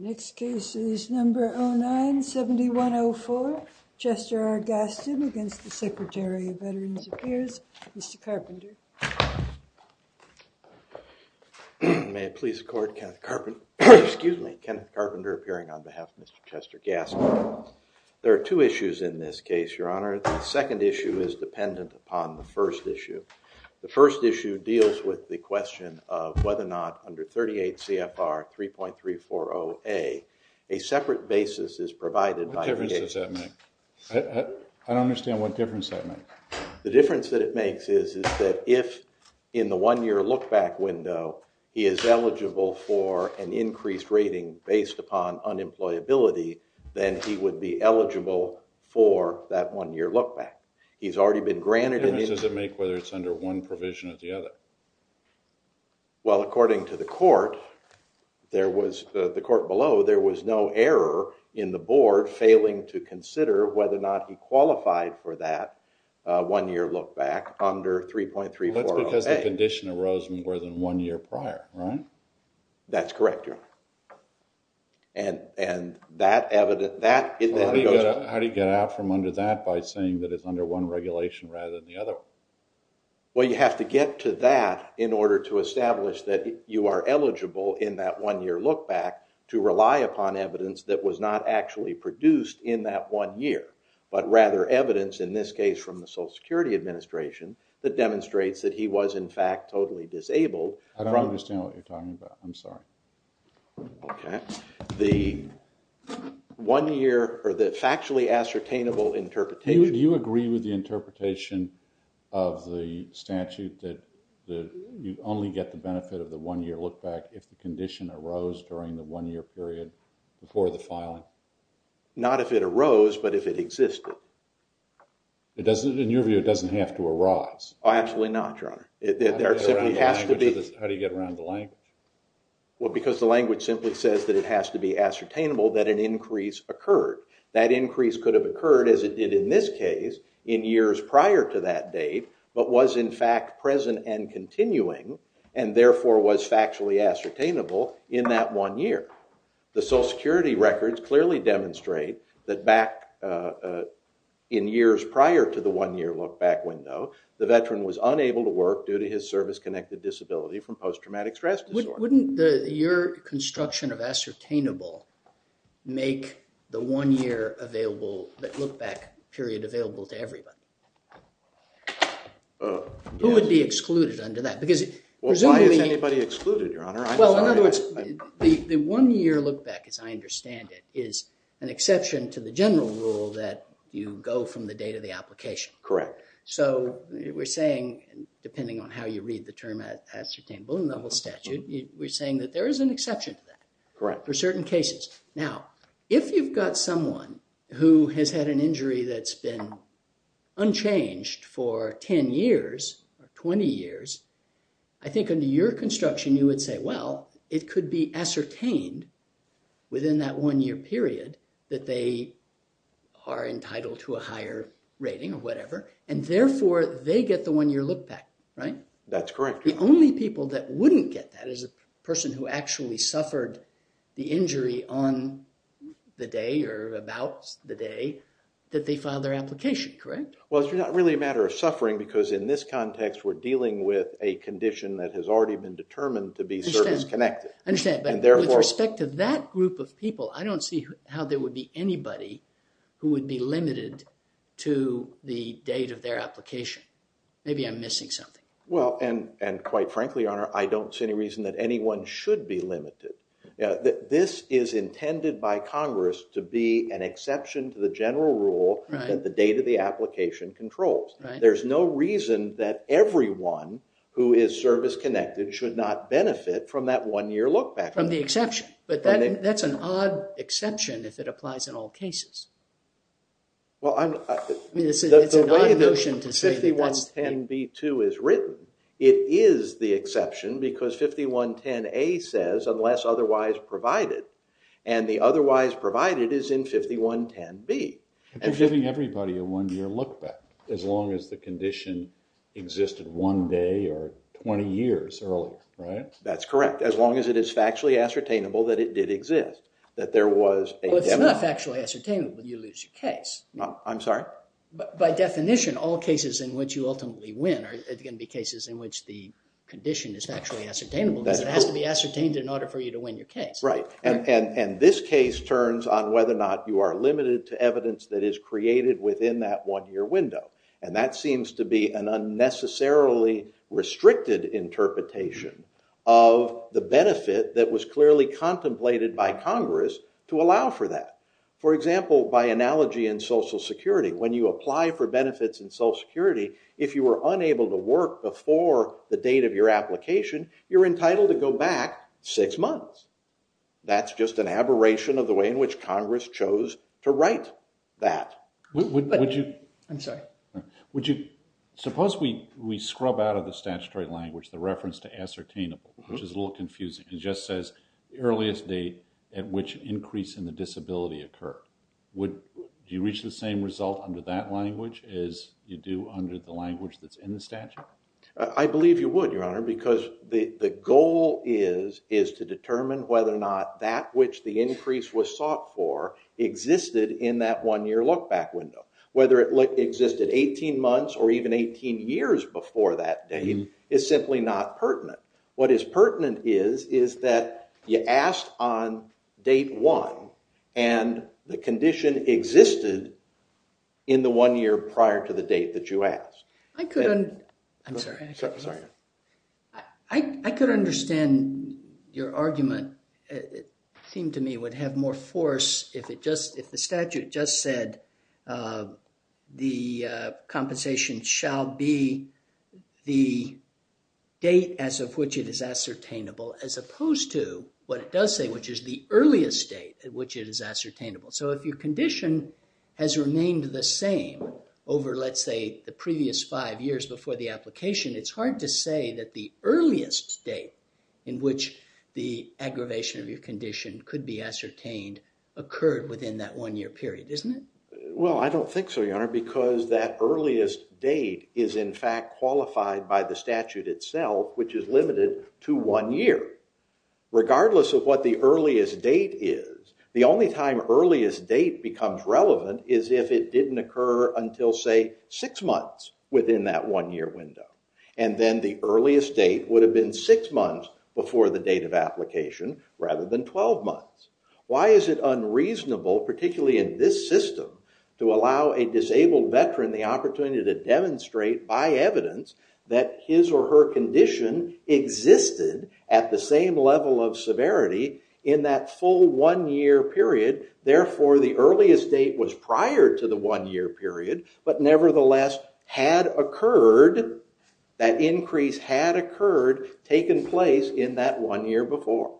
Next case is number 097104, Chester R. Gaston against the Secretary of Veterans Affairs, Mr. Carpenter. May it please the court, Kenneth Carpenter, excuse me, Kenneth Carpenter appearing on behalf of Mr. Chester Gaston. There are two issues in this case, your honor. The second issue is dependent upon the first issue. The first issue deals with the question of whether or not under 38 CFR 3.340A a separate basis is provided. What difference does that make? I don't understand what difference that makes. The difference that it makes is that if in the one-year look-back window he is eligible for an increased rating based upon unemployability, then he would be eligible for that one-year look-back. He's already been granted. Does it make whether it's under one provision or the other? Well, according to the court, there was, the court below, there was no error in the board failing to consider whether or not he qualified for that one-year look-back under 3.340A. That's because the condition arose more than one year prior, right? That's correct, your honor. And that evident, that, it then goes. How do you get out from under that by saying that it's under one regulation rather than the other? Well, you have to get to that in order to establish that you are eligible in that one-year look-back to rely upon evidence that was not actually produced in that one year, but rather evidence in this case from the Social Security Administration that demonstrates that he was in fact totally disabled. I don't understand what you're talking about. I'm sorry. Okay, the one-year or the factually ascertainable interpretation. Do you agree with the interpretation of the statute that you only get the benefit of the one-year look-back if the condition arose during the one-year period before the filing? Not if it arose, but if it existed. It doesn't, in your view, it doesn't have to arise. Oh, absolutely not, your honor. There simply has to be. How do you get around the language? Well, because the language simply says that it has to be ascertainable that an increase occurred. That increase could have occurred, as it did in this case, in years prior to that date, but was in fact present and continuing and therefore was factually ascertainable in that one year. The Social Security records clearly demonstrate that back in years prior to the one-year look-back window, the veteran was unable to work due to his service-connected disability from post-traumatic stress disorder. Wouldn't your construction of ascertainable make the one-year look-back period available to everybody? Who would be excluded under that? Why is anybody excluded, your honor? Well, in other words, the one-year look-back, as I understand it, is an exception to the general rule that you go from the date of the application. Correct. So we're saying, depending on how you read the term ascertainable in the whole statute, we're saying that there is an exception to that. Correct. For certain cases. Now, if you've got someone who has had an injury that's been unchanged for 10 years or 20 years, I think under your construction, you would say, it could be ascertained within that one-year period that they are entitled to a higher rating or whatever and therefore they get the one-year look-back, right? That's correct. The only people that wouldn't get that is a person who actually suffered the injury on the day or about the day that they filed their application, correct? Well, it's not really a matter of suffering because in this context, we're dealing with a condition that has already been determined to be service-connected. I understand, but with respect to that group of people, I don't see how there would be anybody who would be limited to the date of their application. Maybe I'm missing something. Well, and quite frankly, Your Honor, I don't see any reason that anyone should be limited. This is intended by Congress to be an exception to the general rule that the date of everyone who is service-connected should not benefit from that one-year look-back. From the exception, but that's an odd exception if it applies in all cases. Well, I mean, it's an odd notion to say that. The way that 5110B2 is written, it is the exception because 5110A says, unless otherwise provided, and the otherwise provided is in 5110B. And they're giving everybody a one-year look-back as long as the condition existed one day or 20 years earlier, right? That's correct. As long as it is factually ascertainable that it did exist, that there was a deadline. Well, it's not factually ascertainable. You lose your case. I'm sorry? By definition, all cases in which you ultimately win are going to be cases in which the condition is factually ascertainable because it has to be ascertained in order for you to know whether or not you are limited to evidence that is created within that one-year window. And that seems to be an unnecessarily restricted interpretation of the benefit that was clearly contemplated by Congress to allow for that. For example, by analogy in Social Security, when you apply for benefits in Social Security, if you were unable to work before the date of your application, you're entitled to go back six months. That's just an aberration of the way in which Congress chose to write that. I'm sorry? Suppose we scrub out of the statutory language the reference to ascertainable, which is a little confusing. It just says earliest date at which increase in the disability occurred. Would you reach the same result under that language as you do under the language that's in the statute? I believe you would, Your Honor, because the goal is to determine whether or not that which the increase was sought for existed in that one-year look-back window. Whether it existed 18 months or even 18 years before that date is simply not pertinent. What is pertinent is that you asked on date one and the condition your argument seemed to me would have more force if the statute just said the compensation shall be the date as of which it is ascertainable as opposed to what it does say, which is the earliest date at which it is ascertainable. If your condition has remained the same over, let's say, the previous five years before the application, it's hard to say that the in which the aggravation of your condition could be ascertained occurred within that one-year period, isn't it? Well, I don't think so, Your Honor, because that earliest date is, in fact, qualified by the statute itself, which is limited to one year. Regardless of what the earliest date is, the only time earliest date becomes relevant is if it didn't occur until, say, six months within that one-year window, and then the earliest date would have been six months before the date of application rather than 12 months. Why is it unreasonable, particularly in this system, to allow a disabled veteran the opportunity to demonstrate by evidence that his or her condition existed at the same level of severity in that full one-year period, therefore the earliest date was prior to the one-year period, but nevertheless had occurred, that increase had occurred, taken place in that one year before?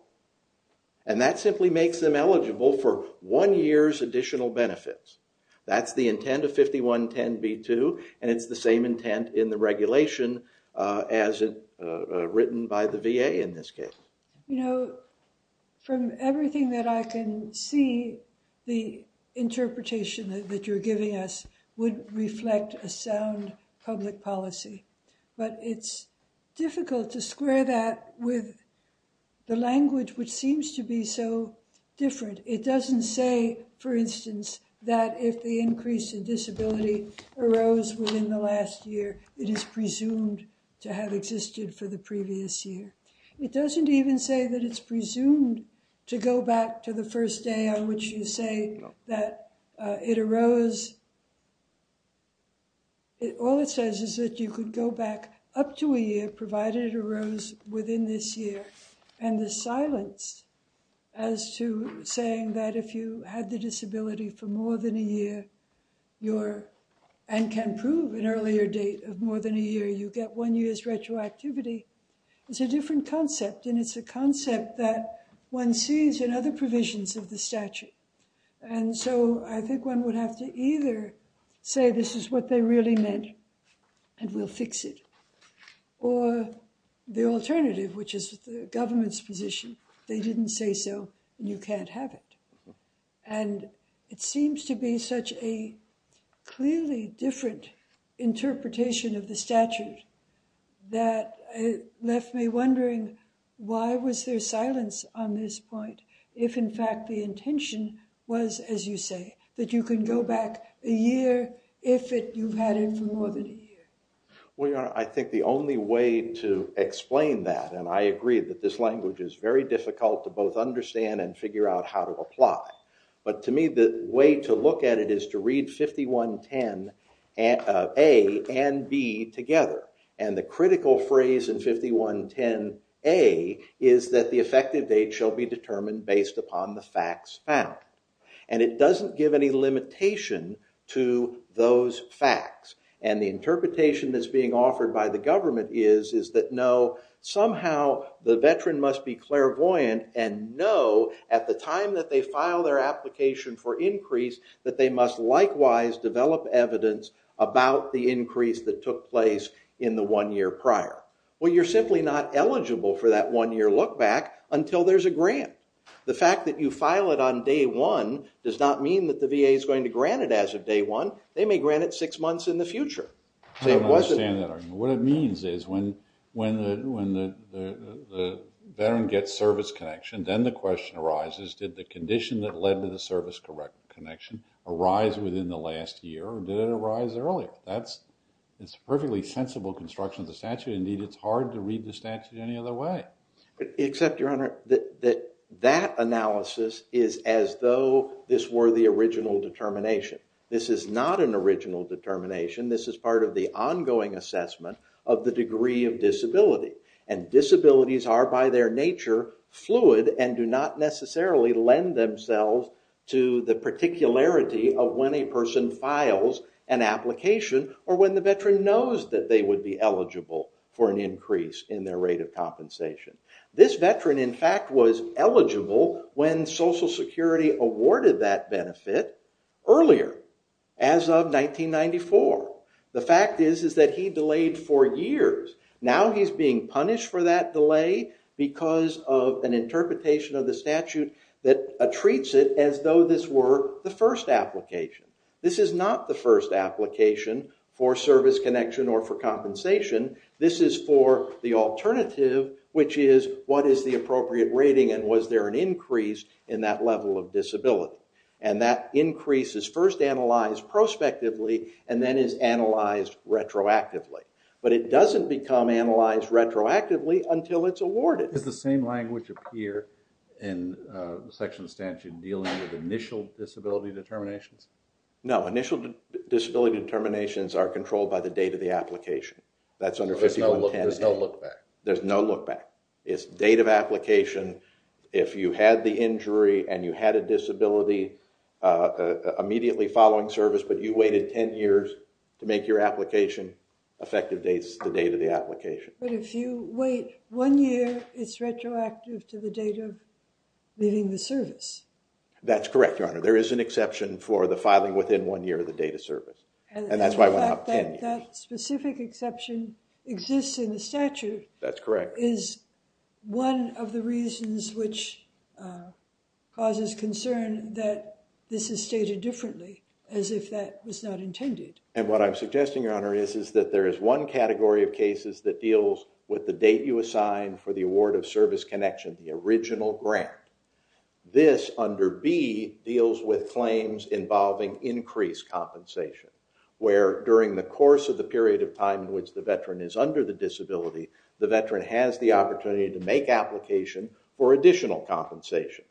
And that simply makes them eligible for one year's additional benefits. That's the intent of 5110b2, and it's the same intent in the regulation as written by the VA in this case. You know, from everything that I can see, the interpretation that you're giving us would reflect a sound public policy, but it's difficult to square that with the language which seems to be so different. It doesn't say, for instance, that if the increase in disability arose within the last year, it is presumed to have existed for the previous year. It doesn't even say that it's presumed to go back to the first day on which you say that it arose. All it says is that you could go back up to a year, provided it arose within this year, and the silence as to saying that if you had the disability for more than a year, and can prove an earlier date of more than a year, you get one year's retroactivity is a different concept, and it's a concept that one sees in other provisions of the statute. And so I think one would have to either say this is what they really meant, and we'll fix it, or the alternative, which is the government's position. They didn't say so, and you can't have it. And it seems to be such a clearly different interpretation of the statute that it left me wondering why was there silence on this point if, in fact, the intention was, as you say, that you can go back a year if you've had it for more than a year. Well, Your Honor, I think the only way to explain that, and I agree that this language is very difficult to both understand and figure out how to apply, but to me the way to look at it is to read 5110 A and B together, and the critical phrase in 5110 A is that the effective date shall be determined based upon the facts found. And it doesn't give any limitation to those facts, and the interpretation that's being offered by the government is that no, somehow the veteran must be develop evidence about the increase that took place in the one year prior. Well, you're simply not eligible for that one year look back until there's a grant. The fact that you file it on day one does not mean that the VA is going to grant it as of day one. They may grant it six months in the future. I don't understand that argument. What it means is when the veteran gets service connection, then the question arises did the condition that led to the service connection arise within the last year, or did it arise earlier? That's a perfectly sensible construction of the statute. Indeed, it's hard to read the statute any other way. Except, Your Honor, that analysis is as though this were the original determination. This is not an original determination. This is part of the ongoing assessment of the degree of disability, and disabilities are by their nature fluid and do not necessarily lend themselves to the particularity of when a person files an application or when the veteran knows that they would be eligible for an increase in their rate of compensation. This veteran, in fact, was eligible when Social Security awarded that benefit earlier as of 1994. The fact is that he delayed for years. Now he's being punished for that delay because of an interpretation of the statute that treats it as though this were the first application. This is not the first application for service connection or for compensation. This is for the alternative, which is what is the appropriate rating and was there an increase in that level of disability. And that increase is first analyzed prospectively and then is analyzed retroactively. But it doesn't become analyzed retroactively until it's awarded. Does the same language appear in the section of the statute dealing with initial disability determinations? No, initial disability determinations are controlled by the date of the application. There's no look back. There's no look back. It's date of application. If you had the injury and you had a disability immediately following service, but you waited 10 years to make your application effective, it's the date of the application. But if you wait one year, it's retroactive to the date of leaving the service. That's correct, Your Honor. There is an exception for the filing within one year of the date of service. And that's why I went out 10 years. That specific exception exists in the statute. That's correct. Is one of the reasons which causes concern that this is stated differently as if that was not intended? And what I'm suggesting, Your Honor, is that there is one category of cases that deals with the date you assign for the award of service connection, the original grant. This under B deals with claims involving increased compensation, where during the course of the period of time in which the veteran is under the disability, the veteran has the opportunity to make application for additional compensation.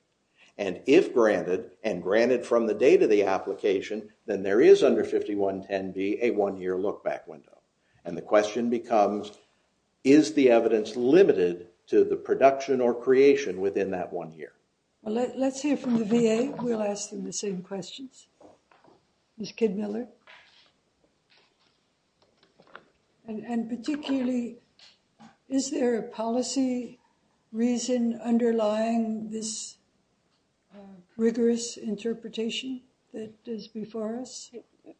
And if granted, and granted from the date of the application, then there is under 5110B a one-year look-back window. And the question becomes, is the evidence limited to the production or creation within that one year? Well, let's hear from the VA. We'll ask them the same questions. Ms. Kidmiller. And particularly, is there a policy reason underlying this rigorous interpretation that is before us?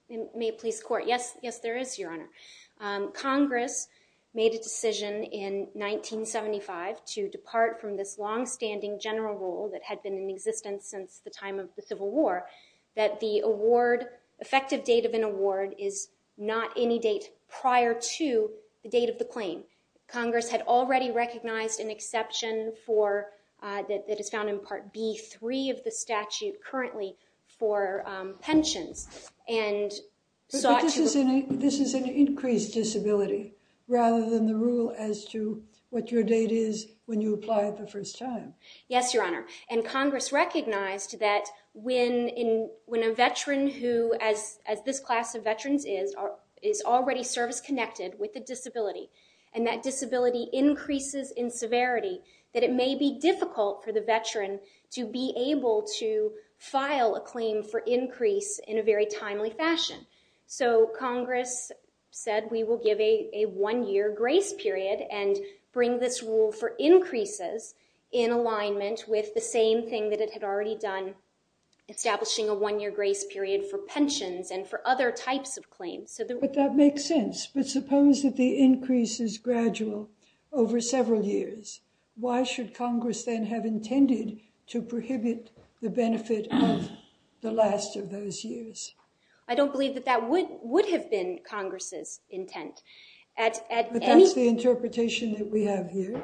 May it please court? Yes. Yes, there is, Your Honor. Congress made a decision in 1975 to depart from this longstanding general rule that had been in existence since the time of the Civil War, that the award, effective date of an award, is not any date prior to the date of the claim. Congress had already recognized an exception that is found in Part B3 of the statute currently for pensions and sought to- But this is an increased disability rather than the rule as to what your date is when you apply it the first time. Yes, Your Honor. And Congress recognized that when a veteran who, as this class of veterans is, is already service-connected with a disability, and that disability increases in severity, that it may be difficult for the veteran to be able to file a claim for increase in a very timely fashion. So Congress said, we will give a one-year grace period and bring this rule for alignment with the same thing that it had already done, establishing a one-year grace period for pensions and for other types of claims. But that makes sense. But suppose that the increase is gradual over several years. Why should Congress then have intended to prohibit the benefit of the last of those years? I don't believe that that would have been Congress's intent. But that's the interpretation that we have here.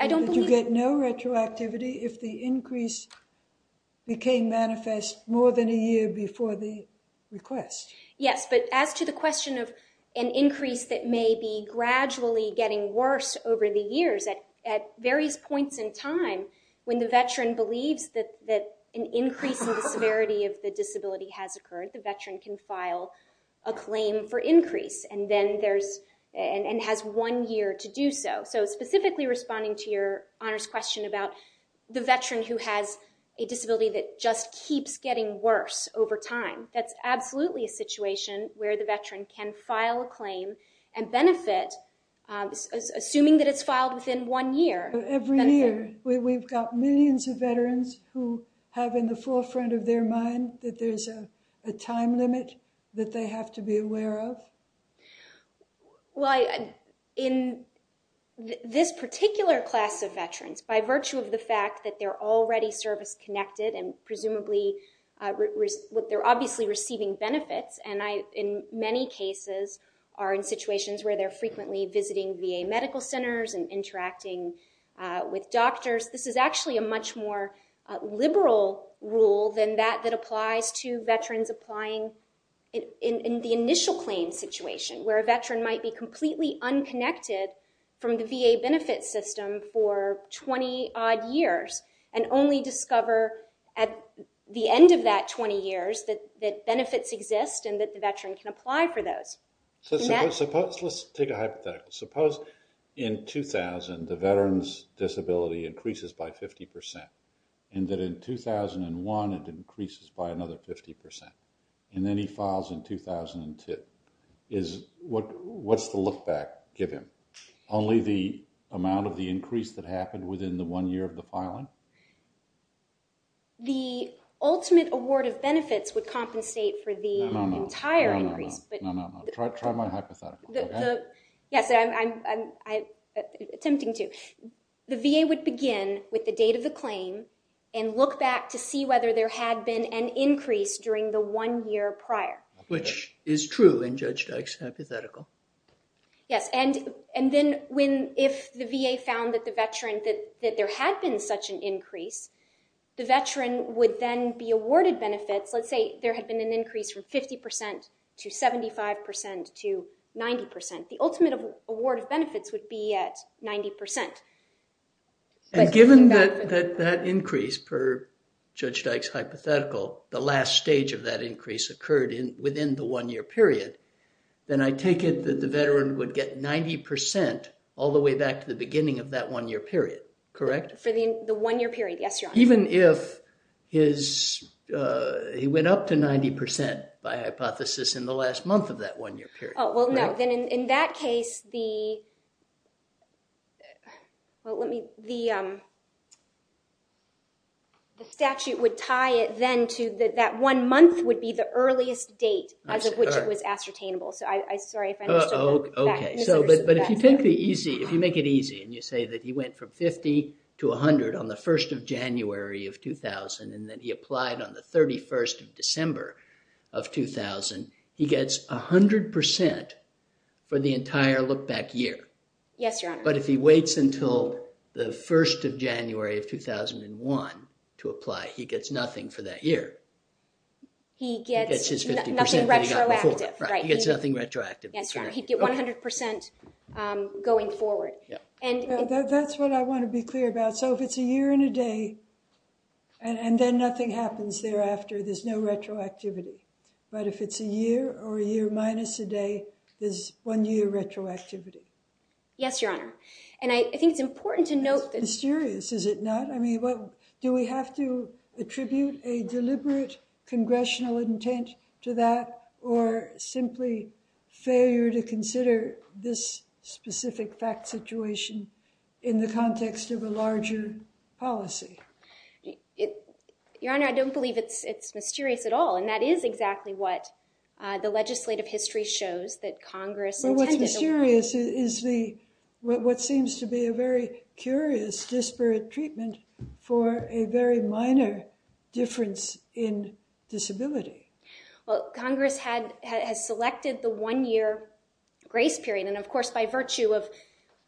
I don't believe- That you get no retroactivity if the increase became manifest more than a year before the request. Yes, but as to the question of an increase that may be gradually getting worse over the years, at various points in time, when the veteran believes that an increase in the severity of the disability has occurred, the veteran can file a claim for increase and has one year to do so. Specifically responding to your honors question about the veteran who has a disability that just keeps getting worse over time, that's absolutely a situation where the veteran can file a claim and benefit, assuming that it's filed within one year. Every year, we've got millions of veterans who have in the forefront of their mind that there's a limit that they have to be aware of? Well, in this particular class of veterans, by virtue of the fact that they're already service-connected and presumably, they're obviously receiving benefits, and in many cases are in situations where they're frequently visiting VA medical centers and interacting with doctors. This is actually a much more liberal rule than that that applies to veterans applying in the initial claim situation, where a veteran might be completely unconnected from the VA benefit system for 20-odd years and only discover at the end of that 20 years that benefits exist and that the veteran can apply for those. So let's take a hypothetical. Suppose in 2000, the veteran's disability increases by 50% and that in 2001, it increases by another 50% and then he files in 2002. What's the look-back given? Only the amount of the increase that happened within the one year of the filing? The ultimate award of benefits would try my hypothetical. Yes, I'm attempting to. The VA would begin with the date of the claim and look back to see whether there had been an increase during the one year prior. Which is true in Judge Dyke's hypothetical. Yes, and then if the VA found that there had been such an increase, the veteran would then be awarded benefits. Let's say there had been an increase from 50% to 75% to 90%. The ultimate award of benefits would be at 90%. Given that increase per Judge Dyke's hypothetical, the last stage of that increase occurred within the one year period, then I take it that the veteran would get 90% all the way back to the beginning of that one year period, correct? For the one year period, yes, Your Honor. Even if he went up to 90% by hypothesis in the last month of that one year period. Oh, well, no. Then in that case, the statute would tie it then to that one month would be the earliest date as of which it was ascertainable. Sorry if I misunderstood. Okay, but if you make it easy and you say that he went from 50 to 100 on the 1st of January of 2000 and then he applied on the 31st of December of 2000, he gets 100% for the entire look back year. Yes, Your Honor. But if he waits until the 1st of January of 2001 to apply, he gets nothing for that year. He gets nothing retroactive, right? He gets nothing retroactive. Yes, Your Honor. He'd get 100% going forward. That's what I want to be clear about. So if it's a year and a day and then nothing happens thereafter, there's no retroactivity. But if it's a year or a year minus a day, there's one year retroactivity. Yes, Your Honor. And I think it's important to note that... It's mysterious, is it not? I mean, do we have to attribute a deliberate congressional intent to that or simply failure to consider this specific fact situation in the context of a larger policy? Your Honor, I don't believe it's mysterious at all, and that is exactly what the legislative history shows that Congress intended. But what's mysterious is what seems to be a very curious disparate treatment for a very minor difference in disability. Well, Congress has selected the one-year grace period. And of course, by virtue of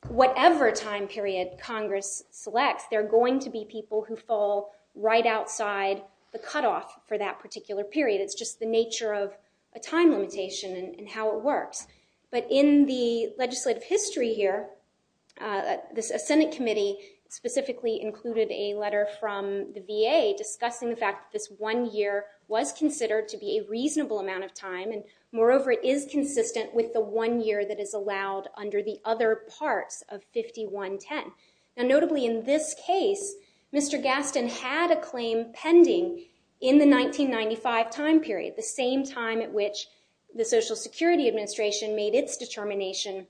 whatever time period Congress selects, there are going to be people who fall right outside the cutoff for that particular period. It's just the nature of a time limitation and how it works. But in the legislative history here, a Senate committee specifically included a letter from the VA discussing the fact that this one year was considered to be a reasonable amount of time. And moreover, it is consistent with the one year that is allowed under the other parts of 5110. And notably in this case, Mr. Gaston had a claim pending in the 1995 time period, the same time at which the Social Security Administration made its determination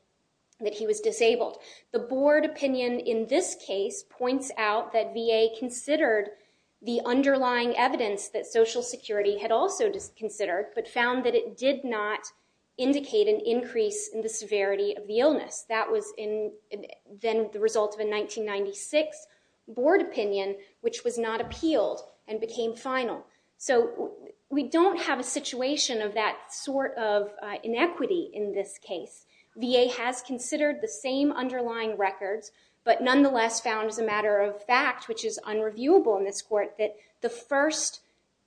that he was disabled. The board opinion in this case points out that VA considered the underlying evidence that Social Security had also considered, but found that it did not indicate an increase in the severity of the illness. That was then the result of a 1996 board opinion, which was not appealed and became final. So we don't have a situation of that sort of inequity in this case. VA has considered the same underlying records, but nonetheless found as a matter of fact, which is unreviewable in this court, that the first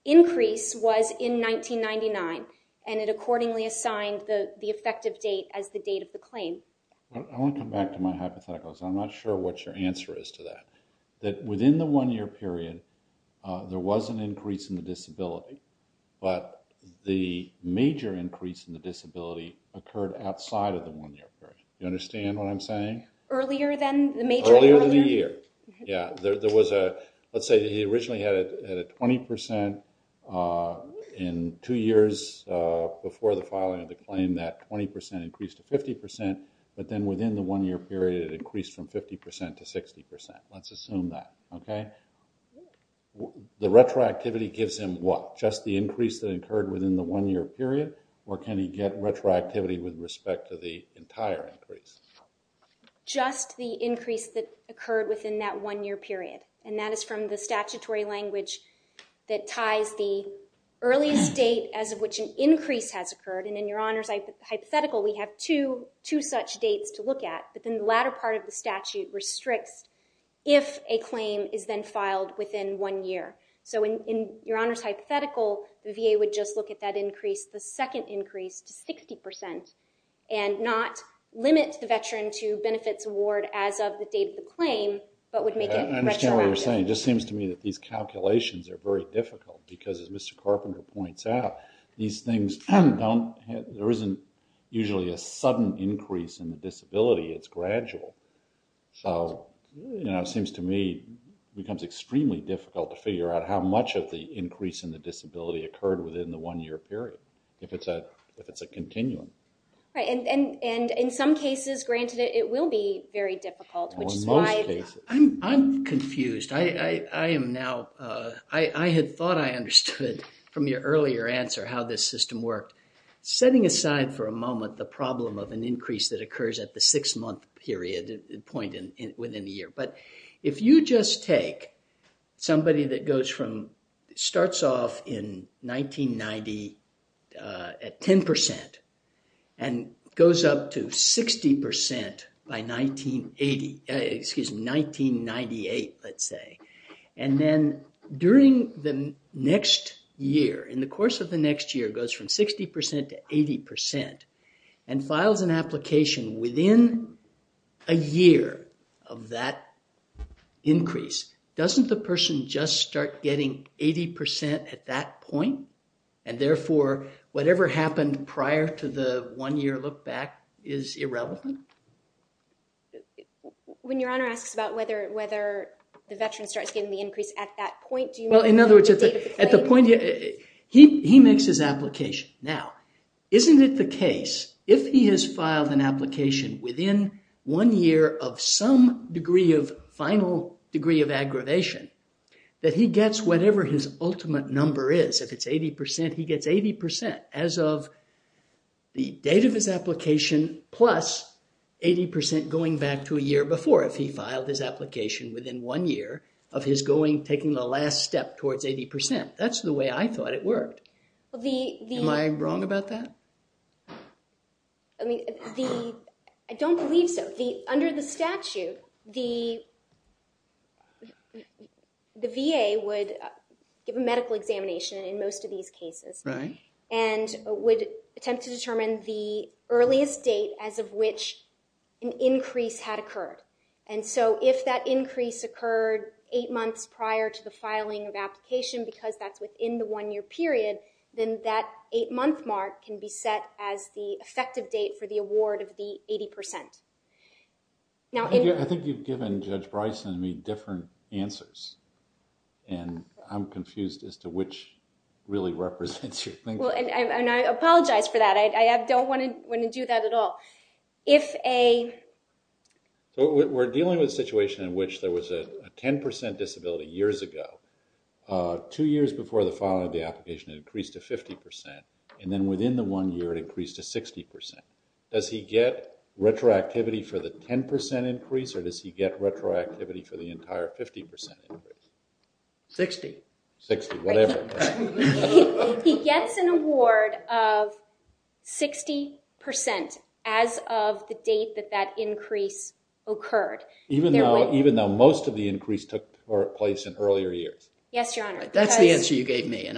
increase was in 1999. And it accordingly assigned the effective date as the date of the claim. I want to come back to my hypotheticals. I'm not sure what your answer is to that. That within the one year period, there was an increase in the disability, but the major increase in the disability occurred outside of the one year period. Do you understand what I'm saying? Earlier than the major? Earlier than the year. Yeah, there was a, let's say he originally had a 20% in two years before the filing of the claim, that 20% increased to 50%, but then within the one year period, it increased from 50% to 60%. Let's assume that, okay? Yeah. The retroactivity gives him what? Just the increase that occurred within the one year period, or can he get retroactivity with respect to the entire increase? Just the increase that occurred within that one year period. And that is from the statutory language that ties the earliest date as of which an increase has occurred. And in Your Honor's hypothetical, we have two such dates to look at, but then the latter part of the statute restricts if a claim is then filed within one year. So in Your Honor's hypothetical, the VA would just look at that increase, the second increase to 60% and not limit the veteran to benefits award as of the date of the claim, but would make it retroactive. I understand what you're saying. It just seems to me that these calculations are very difficult because as Mr. Carpenter points out, these things there isn't usually a sudden increase in the disability, it's gradual. So it seems to me it becomes extremely difficult to figure out how much of the increase in the disability occurred within the one year period, if it's a continuum. Right. And in some cases, granted, it will be very difficult, which is why- I'm confused. I had thought I understood from your earlier answer how this system worked. Setting aside for a moment the problem of an point within a year, but if you just take somebody that starts off in 1990 at 10% and goes up to 60% by 1998, let's say, and then during the next year, in the course of the next year of that increase, doesn't the person just start getting 80% at that point? And therefore, whatever happened prior to the one year look back is irrelevant? When your Honor asks about whether the veteran starts getting the increase at that point, do you mean- Well, in other words, at the point, he makes his application. Now, isn't it the case, if he has filed an application within one year of some degree of final degree of aggravation, that he gets whatever his ultimate number is? If it's 80%, he gets 80% as of the date of his application, plus 80% going back to a year before, if he filed his application within one year of his going, taking the last step towards 80%. That's the way I thought it worked. Am I wrong about that? I don't believe so. Under the statute, the VA would give a medical examination in most of these cases and would attempt to determine the earliest date as of which an increase had occurred. And so, if that increase occurred eight months prior to the filing of application, because that's within the one year period, then that eight month mark can be set as the effective date for the award of the 80%. I think you've given Judge Bryson and me different answers. And I'm confused as to which really represents your thinking. Well, and I apologize for that. I don't want to do that at all. If a- We're dealing with a situation in which there was a 10% disability years ago. Two years before the filing of the application, it increased to 50%. And then within the one year, it increased to 60%. Does he get retroactivity for the 10% increase? Or does he get retroactivity for the entire 50% increase? 60. 60, whatever. He gets an award of 60% as of the date that that increase occurred. Even though most of the increase took place in earlier years. Yes, Your Honor. That's the answer you gave me. And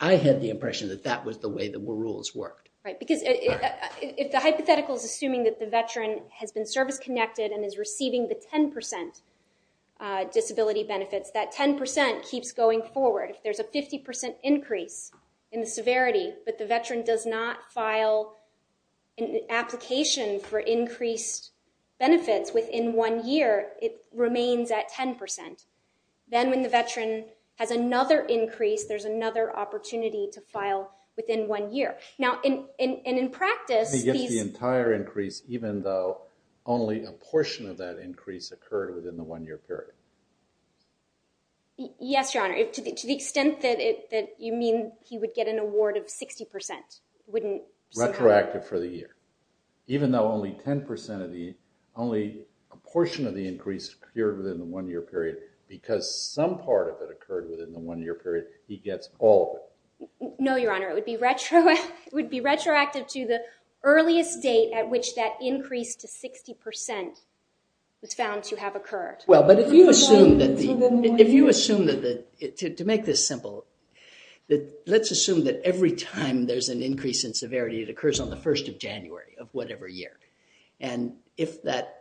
I had the impression that that was the way the rules worked. Right. Because if the hypothetical is assuming that the veteran has been service-connected and is receiving the 10% disability benefits, that 10% keeps going forward. If there's a 50% increase in the severity, but the veteran does not file an application for increased benefits within one year, it remains at 10%. Then when the veteran has another increase, there's another opportunity to file within one year. Now, and in practice- He gets the entire increase, even though only a portion of that increase occurred within the one year period. Yes, Your Honor. To the extent that you mean he would get an award of 60%, wouldn't- Retroactive for the year. Even though only 10% of the, only a portion of the increase occurred within the one year period, because some part of it occurred within the one year period, he gets all of it. No, Your Honor. It would be retroactive to the earliest date at which that increase to 60% was found to have occurred. Well, but if you assume that the- If you assume that the, to make this simple, let's assume that every time there's an increase in severity, it occurs on the 1st of January of whatever year, and if that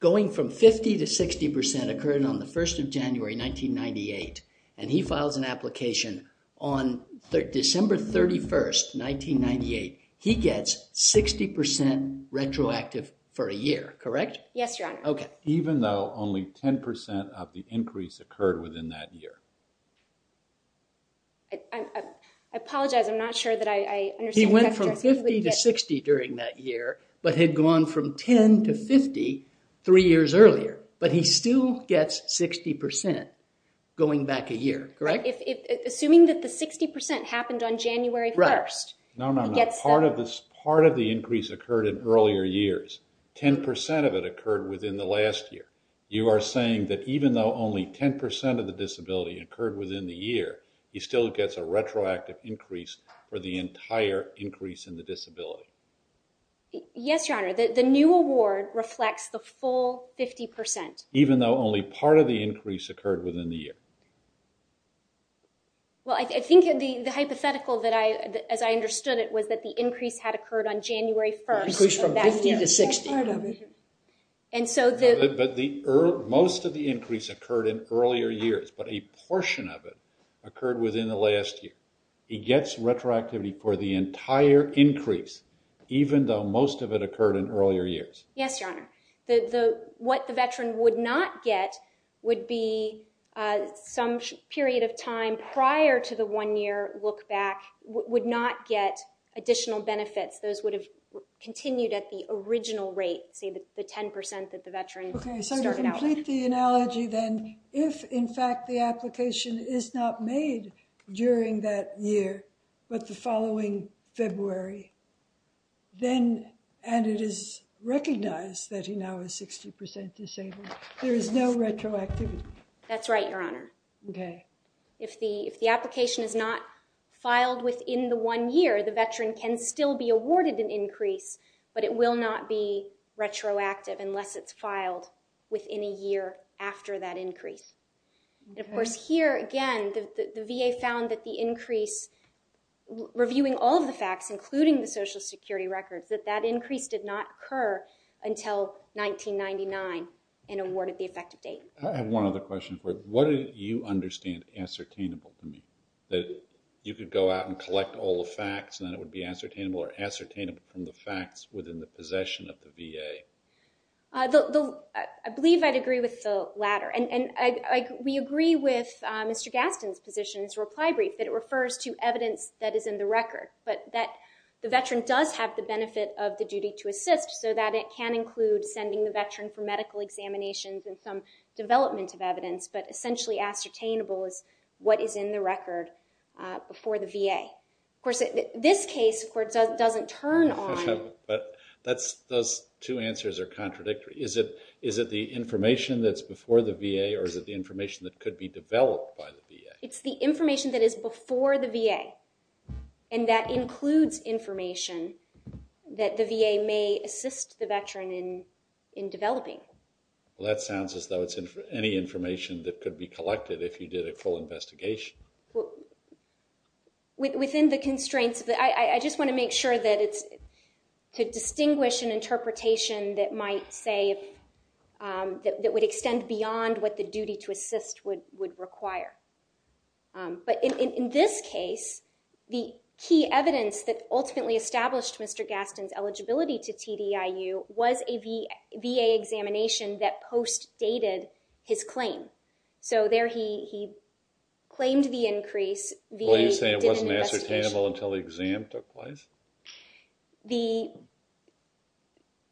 going from 50% to 60% occurred on the 1st of January, 1998, and he files an application on December 31st, 1998, he gets 60% retroactive for a year, correct? Yes, Your Honor. Okay. Even though only 10% of the increase occurred within that year. I apologize, I'm not sure that I understand that. He went from 50% to 60% during that year, but had gone from 10% to 50% three years earlier, but he still gets 60% going back a year, correct? Assuming that the 60% happened on January 1st. Right. No, no, no. Part of the increase occurred in earlier years. 10% of it occurred within the last year. You are saying that even though only 10% of the disability occurred within the year, he still gets a retroactive increase for the entire increase in the disability? Yes, Your Honor. The new award reflects the full 50%. Even though only part of the increase occurred within the year? Well, I think the hypothetical that I, as I understood it, was that the increase had occurred on January 1st. Increased from 50% to 60%. Part of it. And so the- Most of the increase occurred in earlier years, but a portion of it occurred within the last year. He gets retroactivity for the entire increase, even though most of it occurred in earlier years. Yes, Your Honor. What the veteran would not get would be some period of time prior to the one year look back, would not get additional benefits. Those would have continued at the original rate, say the 10% that the veteran started out with. Okay, so to complete the analogy then, if in fact the application is not made during that year, but the following February, then, and it is recognized that he now is 60% disabled, there is no retroactivity? That's right, Your Honor. Okay. If the application is not filed within the one year, the veteran can still be awarded an increase, but it will not be retroactive unless it's filed within a year after that increase. And of course here, again, the VA found that the increase, reviewing all of the facts, including the Social Security records, that that increase did not occur until 1999 and awarded the effective date. I have one other question for you. What do you understand as ascertainable to me? That you could go out and collect all the facts, and then it would be ascertainable or ascertainable from the facts within the possession of the VA? I believe I'd agree with the latter. And we agree with Mr. Gaston's position in his reply brief that it refers to evidence that is in the record, but that the veteran does have the benefit of the duty to assist so that it can include sending the veteran for medical examinations and some development of evidence, but essentially ascertainable is what is in the record before the VA. Of course, this case, of course, doesn't turn on. Those two answers are contradictory. Is it the information that's before the VA, or is it the information that could be developed by the VA? It's the information that is before the VA, and that includes information that the VA may assist the veteran in developing. Well, that sounds as though it's any information that could be collected if you did a full investigation. Well, within the constraints, I just want to make sure that it's to distinguish an interpretation that might say that would extend beyond what the duty to assist would require. But in this case, the key evidence that ultimately established Mr. Gaston's eligibility to TDIU was a VA examination that post-dated his claim. So, there he claimed the increase. Well, you're saying it wasn't ascertainable until the exam took place?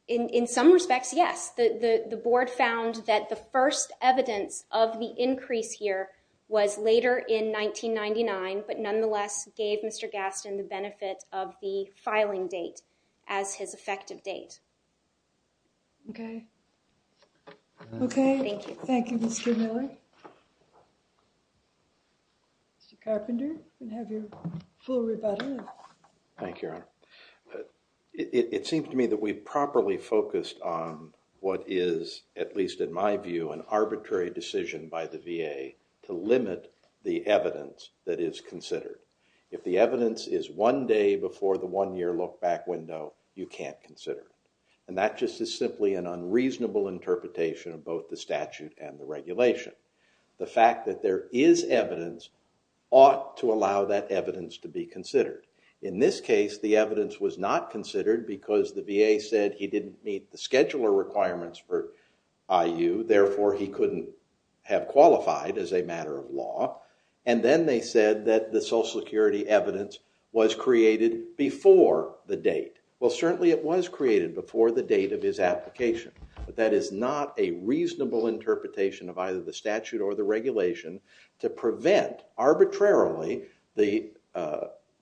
In some respects, yes. The board found that the first evidence of the increase here was later in 1999, but nonetheless gave Mr. Gaston the benefit of the filing date as his effective date. Okay. Okay. Thank you, Mr. Miller. Mr. Carpenter, you can have your full rebuttal. Thank you, Your Honor. It seems to me that we properly focused on what is, at least in my view, an arbitrary decision by the VA to limit the evidence that is considered. If the evidence is one day before the one-year look-back window, you can't consider it. And that just is simply an unreasonable interpretation of both the statute and the regulation. The fact that there is evidence ought to allow that evidence to be considered. In this case, the evidence was not considered because the VA said he didn't meet the scheduler requirements for IU. Therefore, he couldn't have qualified as a matter of law. And then they said that the was created before the date. Well, certainly it was created before the date of his application, but that is not a reasonable interpretation of either the statute or the regulation to prevent arbitrarily the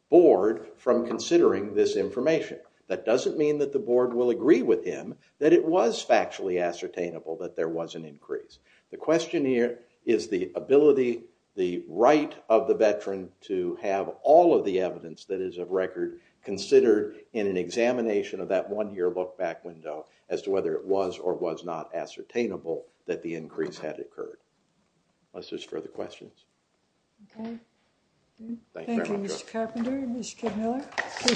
board from considering this information. That doesn't mean that the board will agree with him that it was factually ascertainable that there was an increase. The question here is the ability, the right of the veteran to have all of the evidence that is of record considered in an examination of that one-year look-back window as to whether it was or was not ascertainable that the increase had occurred. Unless there's further questions. Thank you, Mr. Carpenter.